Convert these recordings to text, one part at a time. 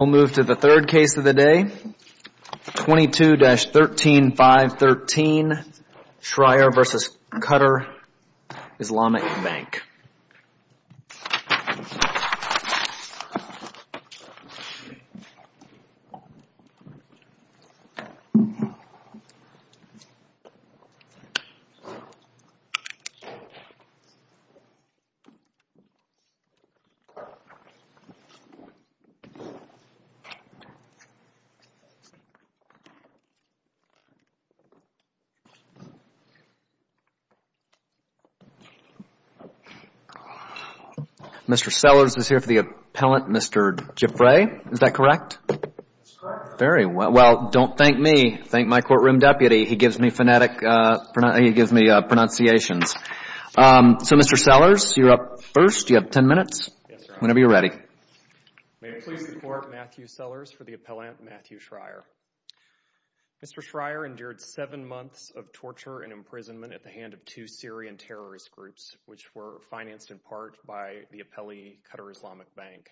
We'll move to the third case of the day. 22-13 513 Schrier v. Qatar Islamic Bank. Mr. Sellers is here for the appellant. Mr. Giffray, is that correct? That's correct. Very well. Well, don't thank me. Thank my courtroom deputy. He gives me phonetic, he gives me pronunciations. So, Mr. Sellers, you're up first. You have ten minutes. Yes, sir. Whenever you're ready. May it please the court, Matthew Sellers for the appellant, Matthew Schrier. Mr. Schrier endured seven months of torture and imprisonment at the hand of two Syrian terrorist groups, which were financed in part by the appellee, Qatar Islamic Bank.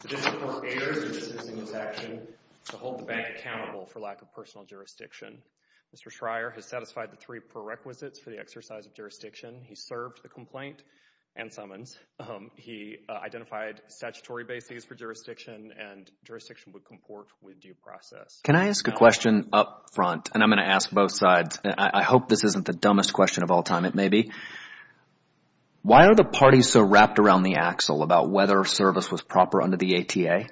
The court errs in dismissing this action to hold the bank accountable for lack of personal jurisdiction. Mr. Schrier has satisfied the three prerequisites for the exercise of jurisdiction. He served the complaint and summons. He identified statutory bases for jurisdiction and jurisdiction would comport with due process. Can I ask a question up front? And I'm going to ask both sides. I hope this isn't the dumbest question of all time. It may be. Why are the parties so wrapped around the axle about whether service was proper under the ATA?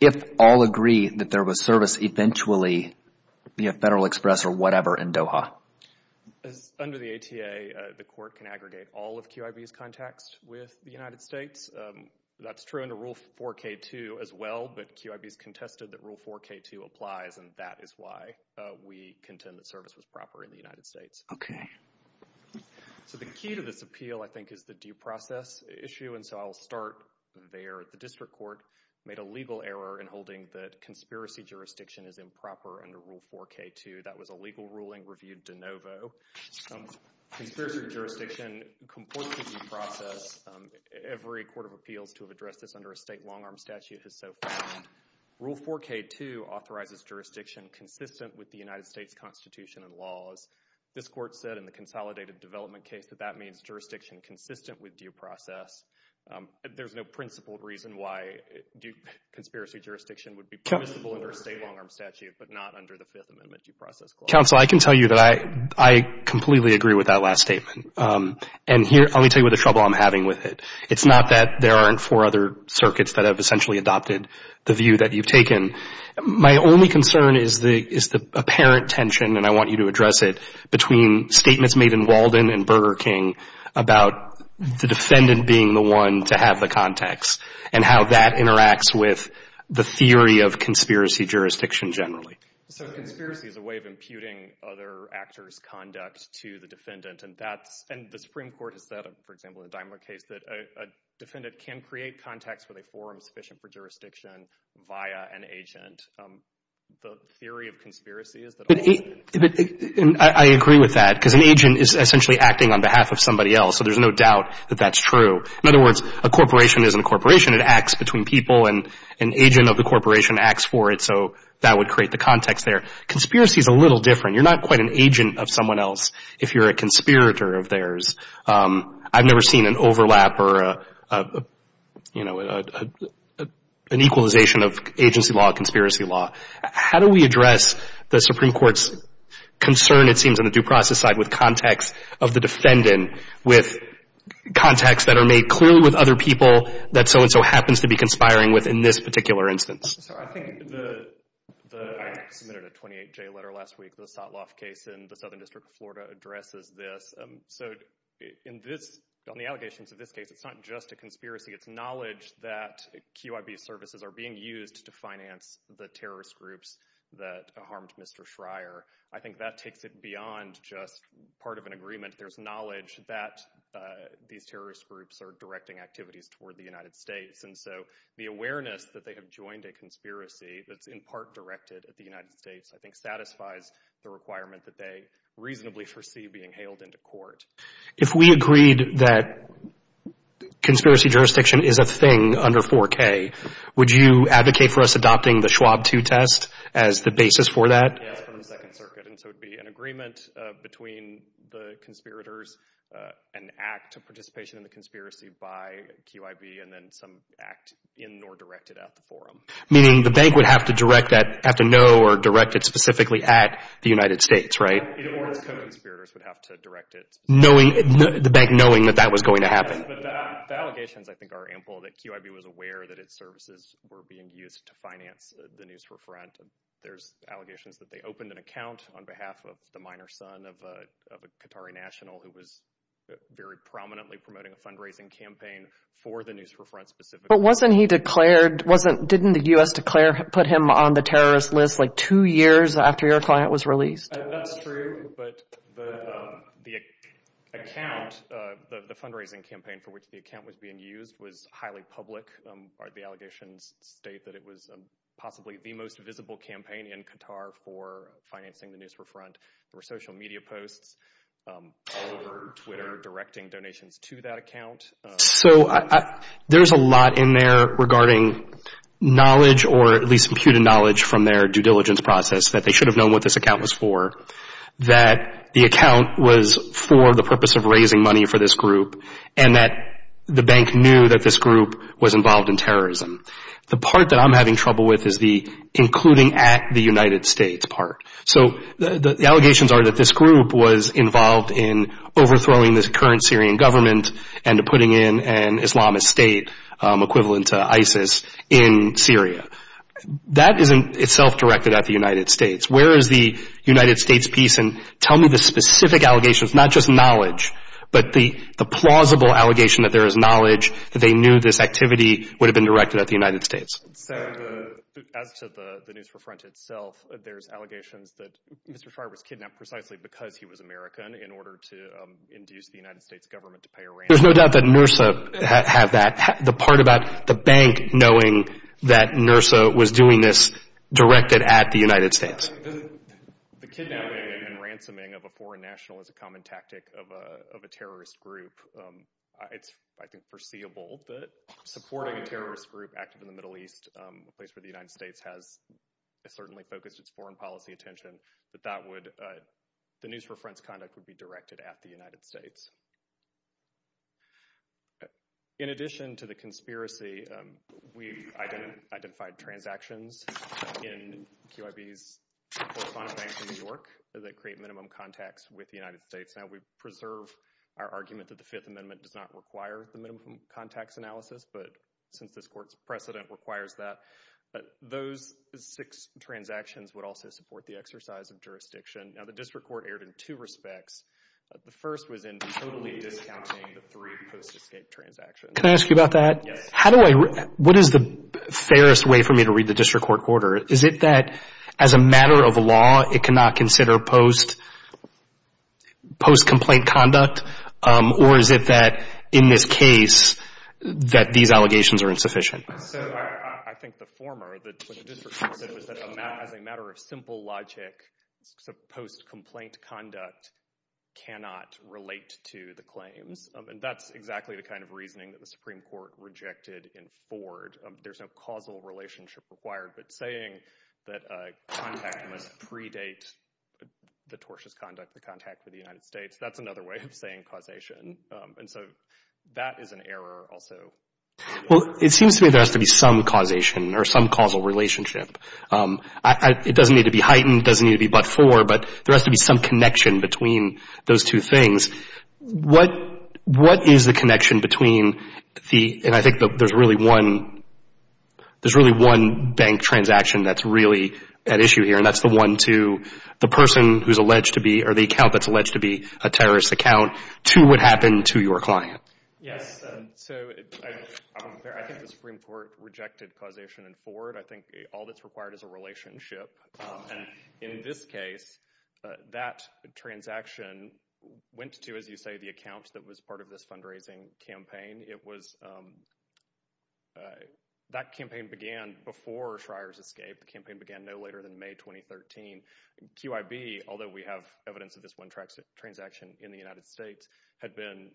If all agree that there was service eventually via Federal Express or whatever in Doha? Under the ATA, the court can aggregate all of QIB's contacts with the United States. That's true under Rule 4K2 as well. But QIB's contested that Rule 4K2 applies. And that is why we contend that service was proper in the United States. OK. So the key to this appeal, I think, is the due process issue. And so I'll start there. The district court made a legal error in holding that conspiracy jurisdiction is improper under Rule 4K2. That was a legal ruling reviewed de novo. Conspiracy jurisdiction comports with due process. Every court of appeals to have addressed this under a state long arm statute has so far. Rule 4K2 authorizes jurisdiction consistent with the United States Constitution and laws. This court said in the consolidated development case that that means jurisdiction consistent with due process. There's no principled reason why conspiracy jurisdiction would be permissible under a state long arm statute, but not under the Fifth Amendment due process clause. Counsel, I can tell you that I completely agree with that last statement. And here, let me tell you what the trouble I'm having with it. It's not that there aren't four other circuits that have essentially adopted the view that you've taken. My only concern is the apparent tension, and I want you to address it, between statements made in Walden and Burger King about the defendant being the one to have the context and how that interacts with the theory of conspiracy jurisdiction generally. So conspiracy is a way of imputing other actors' conduct to the defendant. And the Supreme Court has said, for example, in the Daimler case, that a defendant can create context with a forum sufficient for jurisdiction via an agent. The theory of conspiracy is that... I agree with that, because an agent is essentially acting on behalf of somebody else, so there's no doubt that that's true. In other words, a corporation isn't a corporation. It acts between people, and an agent of the corporation acts for it, so that would create the context there. Conspiracy is a little different. You're not quite an agent of someone else if you're a conspirator of theirs. I've never seen an overlap or an equalization of agency law and conspiracy law. How do we address the Supreme Court's concern, it seems, on the due process side with context of the defendant with context that are made clear with other people that so-and-so happens to be conspiring with in this particular instance? I submitted a 28-J letter last week. The Sotloff case in the Southern District of Florida addresses this. On the allegations of this case, it's not just a conspiracy. It's knowledge that QIB services are being used to finance the terrorist groups that harmed Mr. Schreier. I think that takes it beyond just part of an agreement. There's knowledge that these terrorist groups are directing activities toward the United States, and so the awareness that they have joined a conspiracy that's in part directed at the United States I think satisfies the requirement that they reasonably foresee being hailed into court. If we agreed that conspiracy jurisdiction is a thing under 4K, would you advocate for us adopting the Schwab 2 test as the basis for that? Yes, from the Second Circuit, and so it would be an agreement between the conspirators, an act of participation in the conspiracy by QIB, and then some act in or directed at the forum. Meaning the bank would have to know or direct it specifically at the United States, right? Or the conspirators would have to direct it. The bank knowing that that was going to happen. The allegations I think are ample that QIB was aware that its services were being used to finance the News for Front. There's allegations that they opened an account on behalf of the minor son of a Qatari national who was very prominently promoting a fundraising campaign for the News for Front specifically. But wasn't he declared, didn't the U.S. declare, put him on the terrorist list like two years after your client was released? That's true, but the account, the fundraising campaign for which the account was being used was highly public. The allegations state that it was possibly the most visible campaign in Qatar for financing the News for Front. There were social media posts over Twitter directing donations to that account. So there's a lot in there regarding knowledge or at least imputed knowledge from their due diligence process that they should have known what this account was for. That the account was for the purpose of raising money for this group and that the bank knew that this group was involved in terrorism. The part that I'm having trouble with is the including at the United States part. So the allegations are that this group was involved in overthrowing the current Syrian government and putting in an Islamist state equivalent to ISIS in Syria. That isn't itself directed at the United States. Where is the United States piece? And tell me the specific allegations, not just knowledge, but the plausible allegation that there is knowledge, that they knew this activity would have been directed at the United States. As to the News for Front itself, there's allegations that Mr. Farr was kidnapped precisely because he was American in order to induce the United States government to pay a ransom. There's no doubt that NURSA had that. The part about the bank knowing that NURSA was doing this directed at the United States. The kidnapping and ransoming of a foreign national is a common tactic of a terrorist group. It's, I think, foreseeable that supporting a terrorist group active in the Middle East, a place where the United States has certainly focused its foreign policy attention, that the News for Front's conduct would be directed at the United States. In addition to the conspiracy, we've identified transactions in QIB's correspondent bank in New York that create minimum contacts with the United States. Now, we preserve our argument that the Fifth Amendment does not require the minimum contacts analysis, but since this court's precedent requires that, those six transactions would also support the exercise of jurisdiction. Now, the district court erred in two respects. The first was in totally discounting the three post-escape transactions. Can I ask you about that? Yes. What is the fairest way for me to read the district court order? Is it that, as a matter of law, it cannot consider post-complaint conduct? Or is it that, in this case, that these allegations are insufficient? So I think the former, what the district court said, was that as a matter of simple logic, post-complaint conduct cannot relate to the claims. And that's exactly the kind of reasoning that the Supreme Court rejected in Ford. There's no causal relationship required. But saying that contact must predate the tortious conduct, the contact with the United States, that's another way of saying causation. And so that is an error also. Well, it seems to me there has to be some causation or some causal relationship. It doesn't need to be heightened, doesn't need to be but-for, but there has to be some connection between those two things. What is the connection between the, and I think there's really one, there's really one bank transaction that's really at issue here, and that's the one to the person who's alleged to be, or the account that's alleged to be a terrorist account, to what happened to your client. Yes. So I think the Supreme Court rejected causation in Ford. I think all that's required is a relationship. And in this case, that transaction went to, as you say, the account that was part of this fundraising campaign. It was, that campaign began before Schreyer's escape. The campaign began no later than May 2013. QIB, although we have evidence of this one transaction in the United States, had been,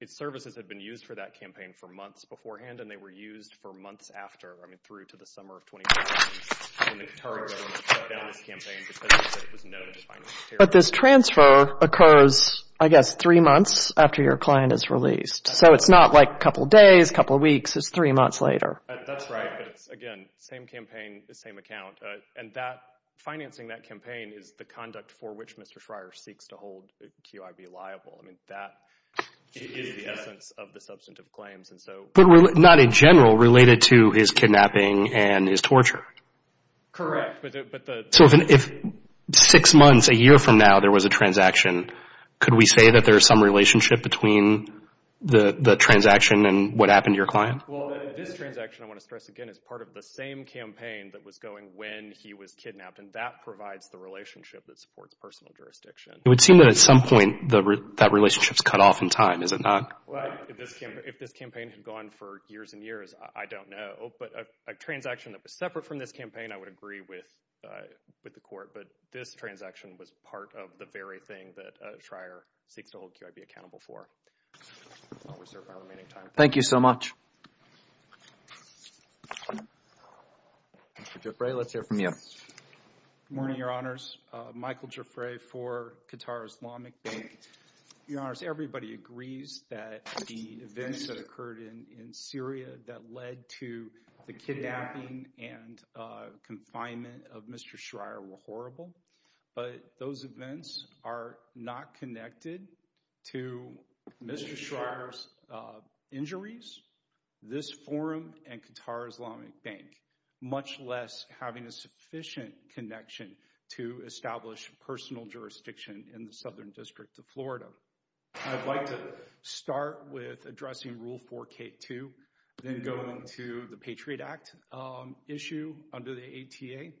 its services had been used for that campaign for months beforehand, and they were used for months after, I mean through to the summer of 2013, when the Qatari government shut down this campaign because there was no defined material. But this transfer occurs, I guess, three months after your client is released. So it's not like a couple days, a couple weeks, it's three months later. That's right, but it's, again, same campaign, the same account. And that, financing that campaign is the conduct for which Mr. Schreyer seeks to hold QIB liable. I mean, that is the essence of the substantive claims. But not in general, related to his kidnapping and his torture. Correct. So if six months, a year from now, there was a transaction, could we say that there's some relationship between the transaction and what happened to your client? Well, this transaction, I want to stress again, is part of the same campaign that was going when he was kidnapped, and that provides the relationship that supports personal jurisdiction. It would seem that at some point that relationship's cut off in time, is it not? Well, if this campaign had gone for years and years, I don't know. But a transaction that was separate from this campaign, I would agree with the court. But this transaction was part of the very thing that Schreyer seeks to hold QIB accountable for. I'll reserve my remaining time. Thank you so much. Mr. Giuffre, let's hear from you. Good morning, Your Honors. Michael Giuffre for Qatar Islamic Bank. Your Honors, everybody agrees that the events that occurred in Syria that led to the kidnapping and confinement of Mr. Schreyer were horrible. But those events are not connected to Mr. Schreyer's injuries, this forum, and Qatar Islamic Bank, much less having a sufficient connection to establish personal jurisdiction in the Southern District of Florida. I'd like to start with addressing Rule 4K2, then go into the Patriot Act issue under the ATA,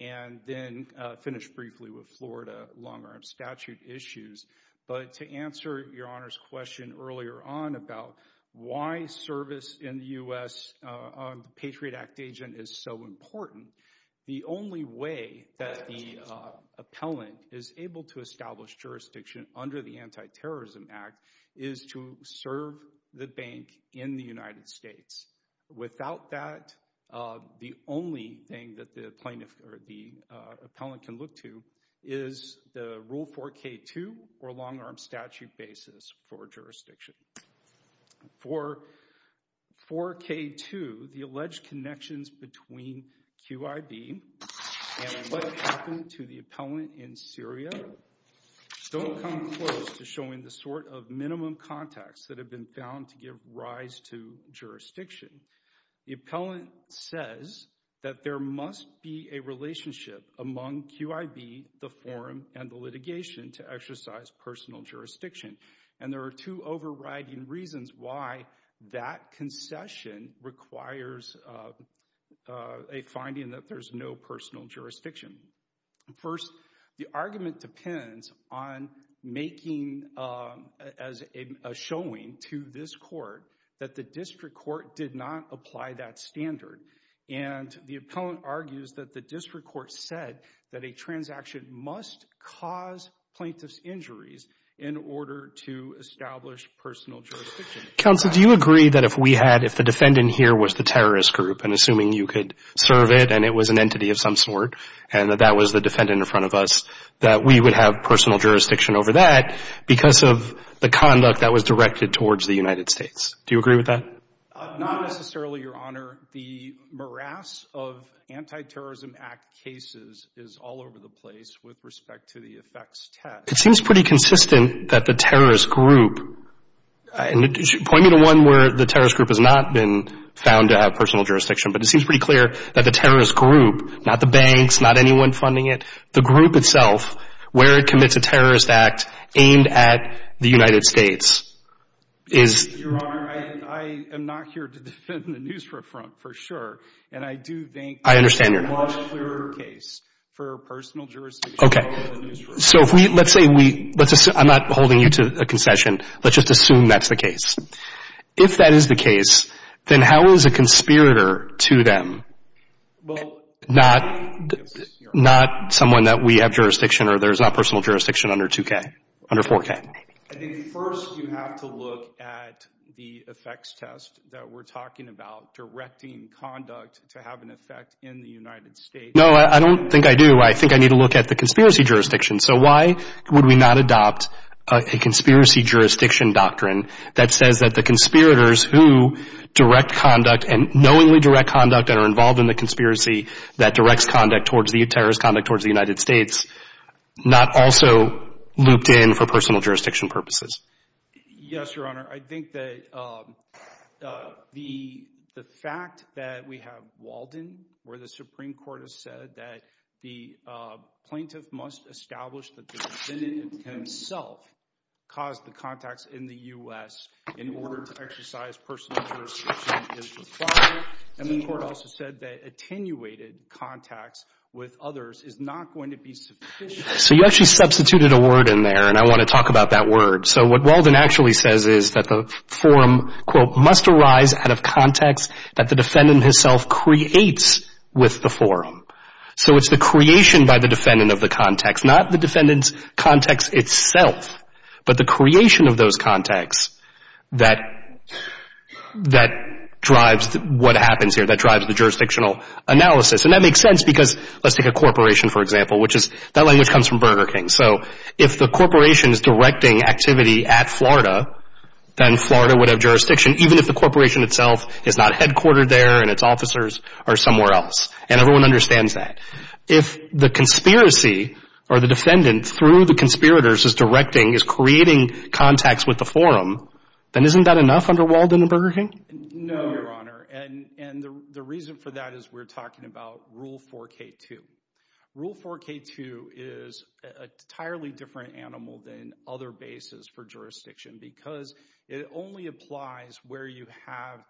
and then finish briefly with Florida long-arm statute issues. But to answer Your Honors' question earlier on about why service in the U.S. on the Patriot Act agent is so important, the only way that the appellant is able to establish jurisdiction under the Anti-Terrorism Act is to serve the bank in the United States. Without that, the only thing that the plaintiff or the appellant can look to is the Rule 4K2 or long-arm statute basis for jurisdiction. For 4K2, the alleged connections between QIB and what happened to the appellant in Syria don't come close to showing the sort of minimum contacts that have been found to give rise to jurisdiction. The appellant says that there must be a relationship among QIB, the forum, and the litigation to exercise personal jurisdiction. And there are two overriding reasons why that concession requires a finding that there's no personal jurisdiction. First, the argument depends on making a showing to this court that the district court did not apply that standard. And the appellant argues that the district court said that a transaction must cause plaintiff's injuries in order to establish personal jurisdiction. Counsel, do you agree that if we had, if the defendant here was the terrorist group, and assuming you could serve it, and it was an entity of some sort, and that that was the defendant in front of us, that we would have personal jurisdiction over that because of the conduct that was directed towards the United States? Do you agree with that? Not necessarily, Your Honor. The morass of Anti-Terrorism Act cases is all over the place with respect to the effects test. It seems pretty consistent that the terrorist group, and point me to one where the terrorist group has not been found to have personal jurisdiction, but it seems pretty clear that the terrorist group, not the banks, not anyone funding it, the group itself, where it commits a terrorist act aimed at the United States, is... Your Honor, I am not here to defend the NUSRA front for sure, and I do think... I understand, Your Honor. ...it's a much clearer case for personal jurisdiction over the NUSRA. So let's say we... I'm not holding you to a concession. Let's just assume that's the case. If that is the case, then how is a conspirator to them... Well... ...not someone that we have jurisdiction or there's not personal jurisdiction under 2K, under 4K? I think first you have to look at the effects test that we're talking about, directing conduct to have an effect in the United States. No, I don't think I do. I think I need to look at the conspiracy jurisdiction. So why would we not adopt a conspiracy jurisdiction doctrine that says that the conspirators who direct conduct and knowingly direct conduct that are involved in the conspiracy that directs conduct towards the terrorist conduct towards the United States not also looped in for personal jurisdiction purposes? Yes, Your Honor. I think that the fact that we have Walden, where the Supreme Court has said that the plaintiff must establish that the defendant himself caused the contacts in the U.S. in order to exercise personal jurisdiction is required, and the Court also said that attenuated contacts with others is not going to be sufficient. So you actually substituted a word in there, and I want to talk about that word. So what Walden actually says is that the forum, quote, must arise out of contacts that the defendant himself creates with the forum. So it's the creation by the defendant of the contacts, not the defendant's contacts itself, but the creation of those contacts that drives what happens here, that drives the jurisdictional analysis. And that makes sense because let's take a corporation, for example, which is that language comes from Burger King. So if the corporation is directing activity at Florida, then Florida would have jurisdiction, even if the corporation itself is not headquartered there and its officers are somewhere else, and everyone understands that. If the conspiracy or the defendant through the conspirators is directing, is creating contacts with the forum, then isn't that enough under Walden and Burger King? No, Your Honor, and the reason for that is we're talking about Rule 4K2. Rule 4K2 is an entirely different animal than other bases for jurisdiction because it only applies where you have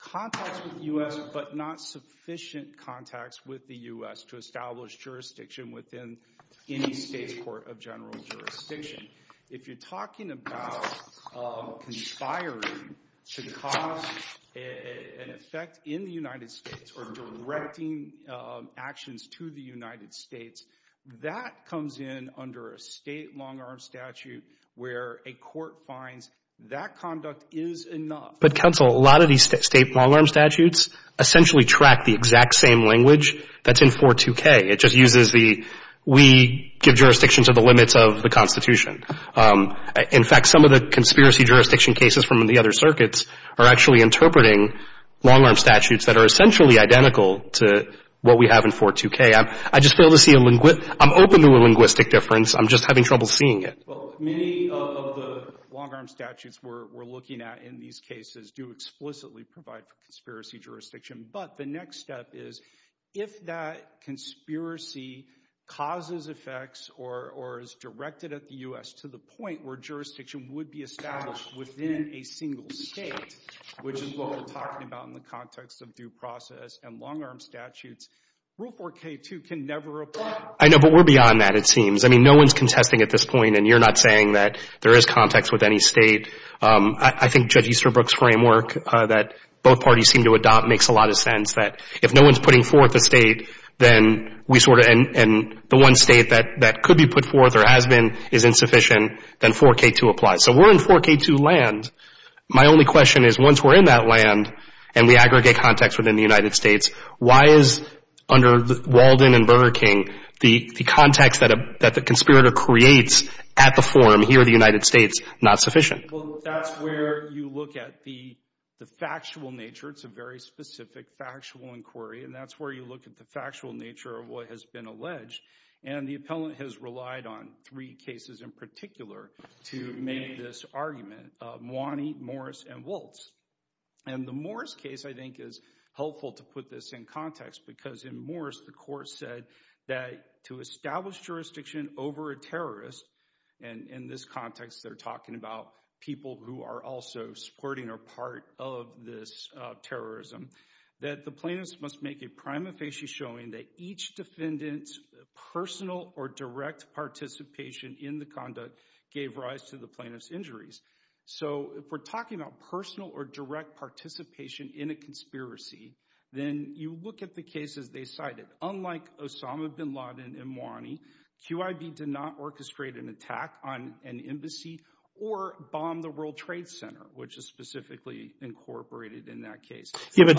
contacts with the U.S. but not sufficient contacts with the U.S. to establish jurisdiction within any state's court of general jurisdiction. If you're talking about conspiring to cause an effect in the United States or directing actions to the United States, that comes in under a state long-arm statute where a court finds that conduct is enough. But, counsel, a lot of these state long-arm statutes essentially track the exact same language that's in 42K. It just uses the we give jurisdiction to the limits of the Constitution. In fact, some of the conspiracy jurisdiction cases from the other circuits are actually interpreting long-arm statutes that are essentially identical to what we have in 42K. I just fail to see a linguistic difference. I'm just having trouble seeing it. Well, many of the long-arm statutes we're looking at in these cases do explicitly provide for conspiracy jurisdiction. But the next step is if that conspiracy causes effects or is directed at the U.S. to the point where jurisdiction would be established within a single state, which is what we're talking about in the context of due process and long-arm statutes, Rule 4K2 can never apply. I know, but we're beyond that, it seems. I mean, no one's contesting at this point, and you're not saying that there is context with any state. I think Judge Easterbrook's framework that both parties seem to adopt makes a lot of sense, that if no one's putting forth a state, then we sort of — and the one state that could be put forth or has been is insufficient, then 4K2 applies. So we're in 4K2 land. My only question is once we're in that land and we aggregate context within the United States, why is under Walden and Burger King the context that the conspirator creates at the forum here in the United States not sufficient? Well, that's where you look at the factual nature. It's a very specific factual inquiry, and that's where you look at the factual nature of what has been alleged. And the appellant has relied on three cases in particular to make this argument, Mwani, Morris, and Woltz. And the Morris case, I think, is helpful to put this in context because in Morris, the court said that to establish jurisdiction over a terrorist, and in this context, they're talking about people who are also supporting or part of this terrorism, that the plaintiffs must make a prima facie showing that each defendant's personal or direct participation in the conduct gave rise to the plaintiff's injuries. So if we're talking about personal or direct participation in a conspiracy, then you look at the cases they cited. Unlike Osama bin Laden and Mwani, QIB did not orchestrate an attack on an embassy or bomb the World Trade Center, which is specifically incorporated in that case. Yeah, but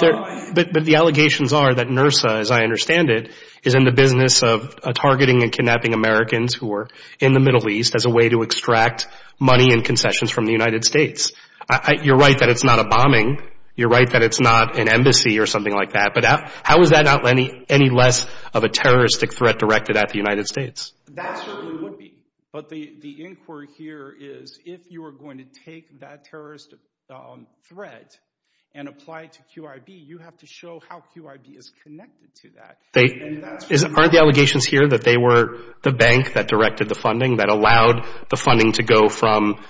the allegations are that NRSA, as I understand it, is in the business of targeting and kidnapping Americans who are in the Middle East as a way to extract money and concessions from the United States. You're right that it's not a bombing. You're right that it's not an embassy or something like that. But how is that any less of a terroristic threat directed at the United States? That certainly would be. But the inquiry here is if you are going to take that terrorist threat and apply it to QIB, you have to show how QIB is connected to that. Aren't the allegations here that they were the bank that directed the funding, that allowed the funding to go from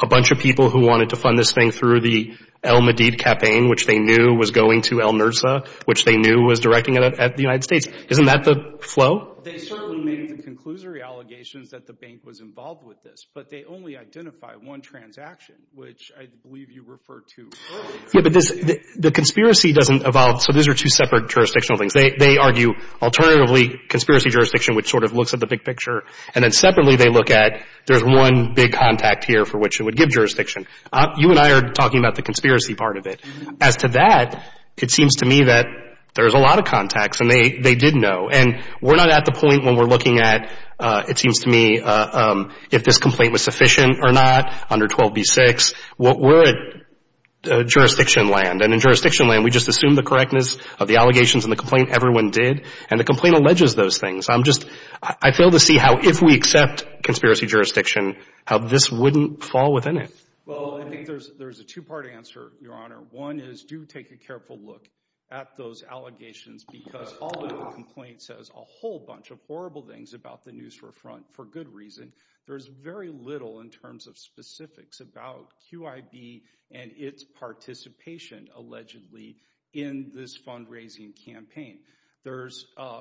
a bunch of people who wanted to fund this thing through the Al-Madid campaign, which they knew was going to Al-NRSA, which they knew was directing it at the United States? Isn't that the flow? Well, they certainly made the conclusory allegations that the bank was involved with this, but they only identified one transaction, which I believe you referred to earlier. Yeah, but the conspiracy doesn't evolve. So these are two separate jurisdictional things. They argue alternatively conspiracy jurisdiction, which sort of looks at the big picture, and then separately they look at there's one big contact here for which it would give jurisdiction. You and I are talking about the conspiracy part of it. As to that, it seems to me that there's a lot of contacts, and they did know. And we're not at the point when we're looking at, it seems to me, if this complaint was sufficient or not under 12b-6. We're at jurisdiction land. And in jurisdiction land, we just assume the correctness of the allegations and the complaint everyone did, and the complaint alleges those things. I'm just — I fail to see how, if we accept conspiracy jurisdiction, how this wouldn't fall within it. Well, I think there's a two-part answer, Your Honor. One is do take a careful look at those allegations, because although the complaint says a whole bunch of horrible things about the Neusra Front for good reason, there's very little in terms of specifics about QIB and its participation allegedly in this fundraising campaign. There's a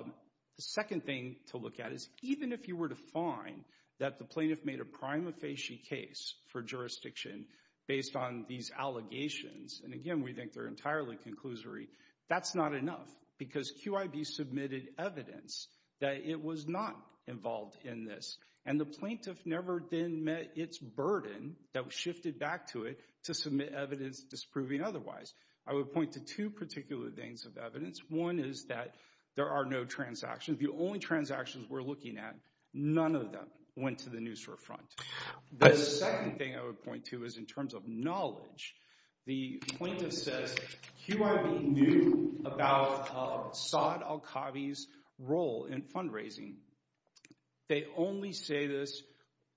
second thing to look at is even if you were to find that the plaintiff made a prima facie case for jurisdiction based on these allegations, and again, we think they're entirely conclusory, that's not enough, because QIB submitted evidence that it was not involved in this. And the plaintiff never then met its burden that shifted back to it to submit evidence disproving otherwise. I would point to two particular things of evidence. One is that there are no transactions. The only transactions we're looking at, none of them went to the Neusra Front. The second thing I would point to is in terms of knowledge. The plaintiff says QIB knew about Saad al-Khavi's role in fundraising. They only say this,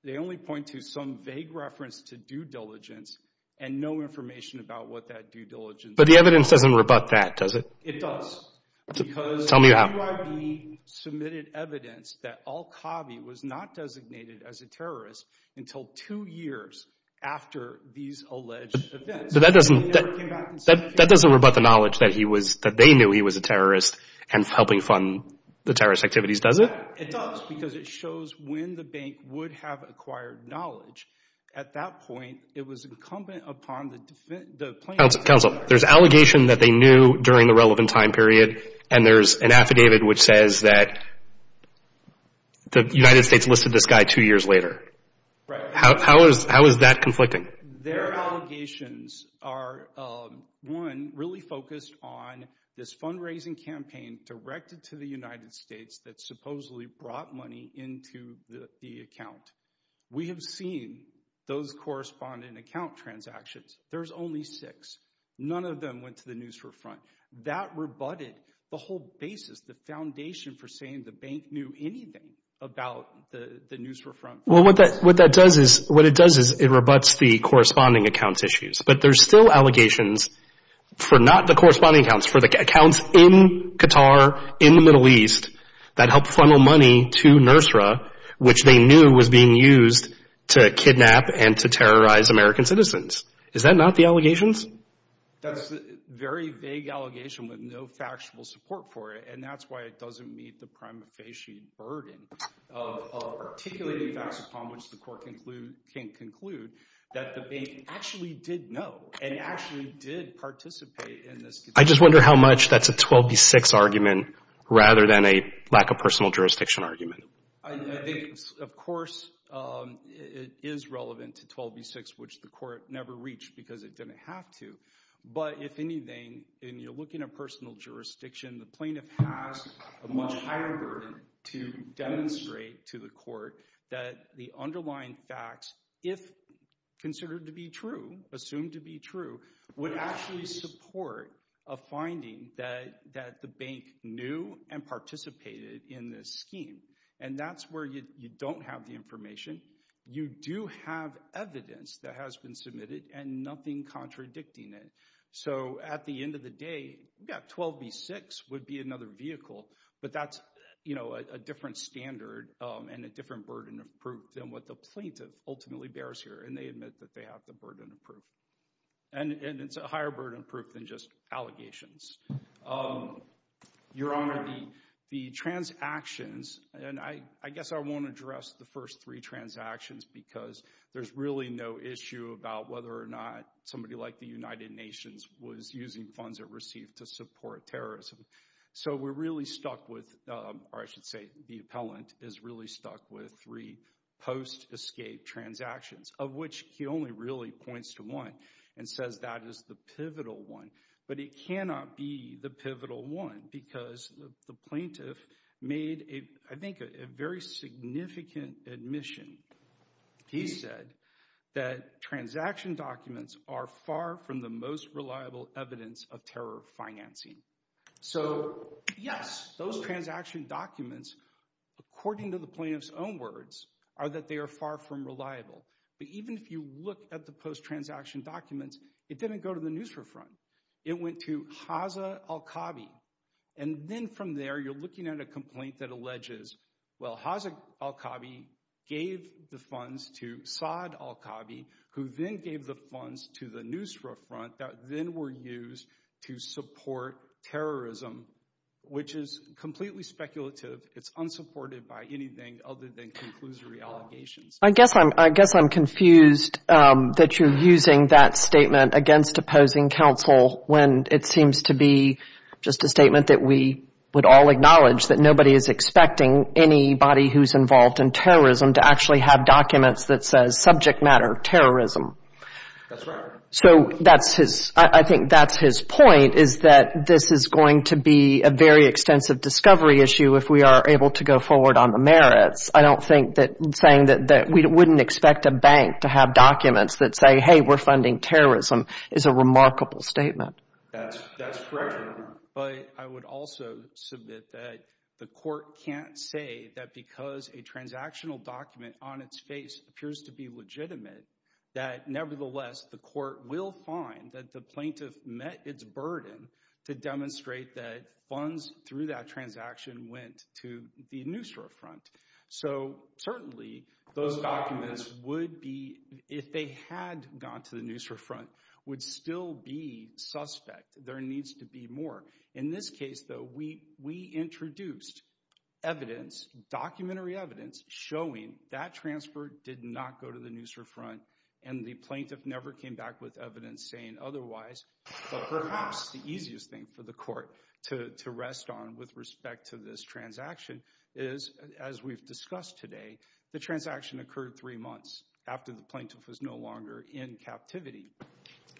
they only point to some vague reference to due diligence and no information about what that due diligence is. But the evidence doesn't rebut that, does it? It does. Tell me how. Because QIB submitted evidence that al-Khavi was not designated as a terrorist until two years after these alleged events. But that doesn't rebut the knowledge that they knew he was a terrorist and helping fund the terrorist activities, does it? It does, because it shows when the bank would have acquired knowledge. At that point, it was incumbent upon the plaintiff. Counsel, there's allegation that they knew during the relevant time period and there's an affidavit which says that the United States listed this guy two years later. How is that conflicting? Their allegations are, one, really focused on this fundraising campaign directed to the United States that supposedly brought money into the account. We have seen those corresponding account transactions. There's only six. None of them went to the Nusra Front. That rebutted the whole basis, the foundation for saying the bank knew anything about the Nusra Front. Well, what that does is it rebuts the corresponding account issues. But there's still allegations for not the corresponding accounts, for the accounts in Qatar, in the Middle East, that helped funnel money to Nusra, which they knew was being used to kidnap and to terrorize American citizens. Is that not the allegations? That's a very vague allegation with no factual support for it, and that's why it doesn't meet the prima facie burden of articulating facts upon which the court can conclude that the bank actually did know and actually did participate in this case. I just wonder how much that's a 12 v. 6 argument rather than a lack of personal jurisdiction argument. I think, of course, it is relevant to 12 v. 6, which the court never reached because it didn't have to. But if anything, in looking at personal jurisdiction, the plaintiff has a much higher burden to demonstrate to the court that the underlying facts, if considered to be true, assumed to be true, would actually support a finding that the bank knew and participated in this scheme. And that's where you don't have the information. You do have evidence that has been submitted and nothing contradicting it. So at the end of the day, 12 v. 6 would be another vehicle, but that's a different standard and a different burden of proof than what the plaintiff ultimately bears here, and they admit that they have the burden of proof. And it's a higher burden of proof than just allegations. Your Honor, the transactions, and I guess I won't address the first three transactions because there's really no issue about whether or not somebody like the United Nations was using funds it received to support terrorism. So we're really stuck with, or I should say the appellant is really stuck with three post-escape transactions, of which he only really points to one and says that is the pivotal one. But it cannot be the pivotal one because the plaintiff made, I think, a very significant admission. He said that transaction documents are far from the most reliable evidence of terror financing. So yes, those transaction documents, according to the plaintiff's own words, are that they are far from reliable. But even if you look at the post-transaction documents, it didn't go to the Nusra Front. It went to Hazza al-Khabi. And then from there, you're looking at a complaint that alleges, well, Hazza al-Khabi gave the funds to Saad al-Khabi, who then gave the funds to the Nusra Front that then were used to support terrorism, which is completely speculative. It's unsupported by anything other than conclusory allegations. I guess I'm confused that you're using that statement against opposing counsel when it seems to be just a statement that we would all acknowledge, that nobody is expecting anybody who's involved in terrorism to actually have documents that says subject matter terrorism. That's right. So I think that's his point, is that this is going to be a very extensive discovery issue if we are able to go forward on the merits. I don't think that saying that we wouldn't expect a bank to have documents that say, hey, we're funding terrorism is a remarkable statement. That's correct. But I would also submit that the court can't say that because a transactional document on its face appears to be legitimate, that nevertheless the court will find that the plaintiff met its burden to demonstrate that funds through that transaction went to the Nusra Front. So certainly those documents would be, if they had gone to the Nusra Front, would still be suspect. There needs to be more. In this case, though, we introduced evidence, documentary evidence, showing that transfer did not go to the Nusra Front and the plaintiff never came back with evidence saying otherwise. But perhaps the easiest thing for the court to rest on with respect to this transaction is, as we've discussed today, the transaction occurred three months after the plaintiff was no longer in captivity.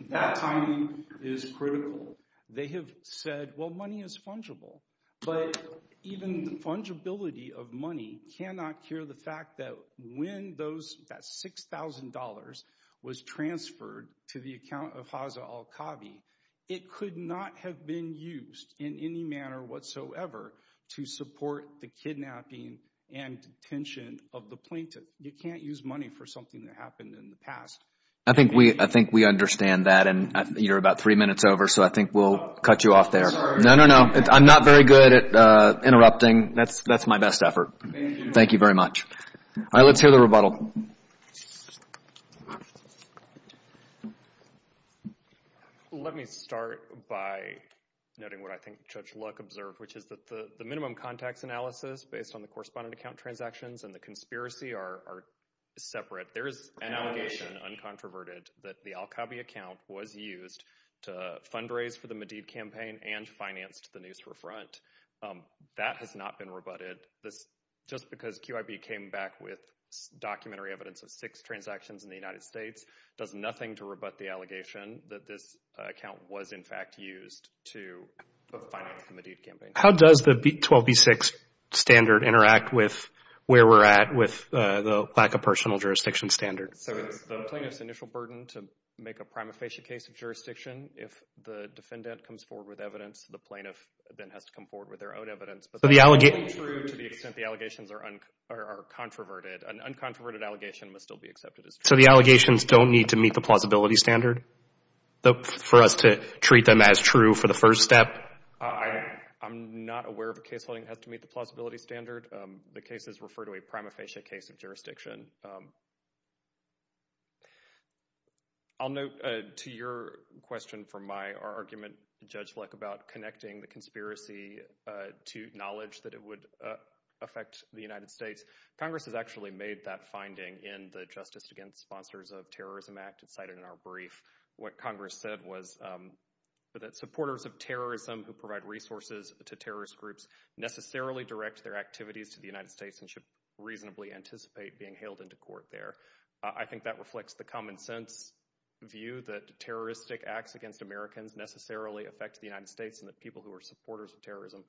That timing is critical. They have said, well, money is fungible. But even the fungibility of money cannot cure the fact that when that $6,000 was transferred to the account of Haza al-Khavi, it could not have been used in any manner whatsoever to support the kidnapping and detention of the plaintiff. You can't use money for something that happened in the past. I think we understand that. And you're about three minutes over, so I think we'll cut you off there. No, no, no. I'm not very good at interrupting. That's my best effort. Thank you very much. All right. Let's hear the rebuttal. All right. Let me start by noting what I think Judge Luck observed, which is that the minimum contacts analysis based on the correspondent account transactions and the conspiracy are separate. There is an allegation, uncontroverted, that the al-Khavi account was used to fundraise for the Madid campaign and finance the news refront. That has not been rebutted. Just because QIB came back with documentary evidence of six transactions in the United States does nothing to rebut the allegation that this account was, in fact, used to finance the Madid campaign. How does the 12B6 standard interact with where we're at with the lack of personal jurisdiction standard? So it's the plaintiff's initial burden to make a prima facie case of jurisdiction. If the defendant comes forward with evidence, the plaintiff then has to come forward with their own evidence. To the extent the allegations are controverted, an uncontroverted allegation must still be accepted as true. So the allegations don't need to meet the plausibility standard for us to treat them as true for the first step? I'm not aware of a case holding that has to meet the plausibility standard. The cases refer to a prima facie case of jurisdiction. I'll note to your question from my argument, Judge Luck, about connecting the conspiracy to knowledge that it would affect the United States. Congress has actually made that finding in the Justice Against Sponsors of Terrorism Act. It's cited in our brief. What Congress said was that supporters of terrorism who provide resources to terrorist groups necessarily direct their activities to the United States and should reasonably anticipate being hailed into court there. I think that reflects the common sense view that terroristic acts against Americans necessarily affect the United States and that people who are supporters of terrorism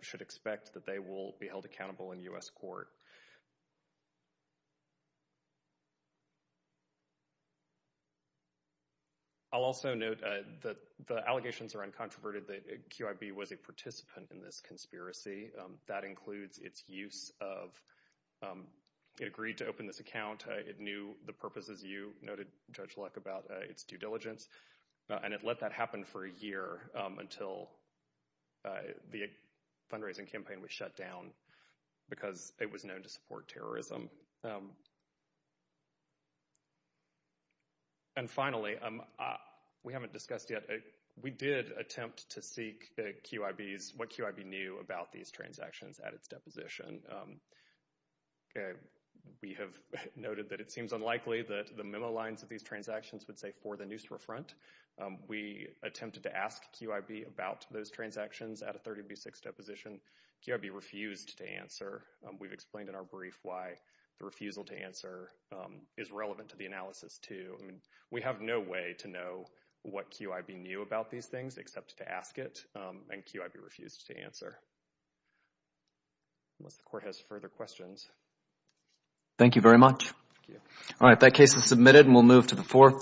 should expect that they will be held accountable in U.S. court. I'll also note that the allegations are uncontroverted, that QIB was a participant in this conspiracy. That includes its use of... It agreed to open this account. It knew the purposes. You noted, Judge Luck, about its due diligence. And it let that happen for a year until the fundraising campaign was shut down because it was known to support terrorism. And finally, we haven't discussed yet... We did attempt to seek what QIB knew about these transactions at its deposition. We have noted that it seems unlikely that the memo lines of these transactions would say, for the Nusra Front. We attempted to ask QIB about those transactions at a 30b6 deposition. QIB refused to answer. We've explained in our brief why the refusal to answer is relevant to the analysis, too. I mean, we have no way to know what QIB knew about these things except to ask it, and QIB refused to answer. Unless the court has further questions. Thank you very much. All right, that case is submitted, and we'll move to the fourth.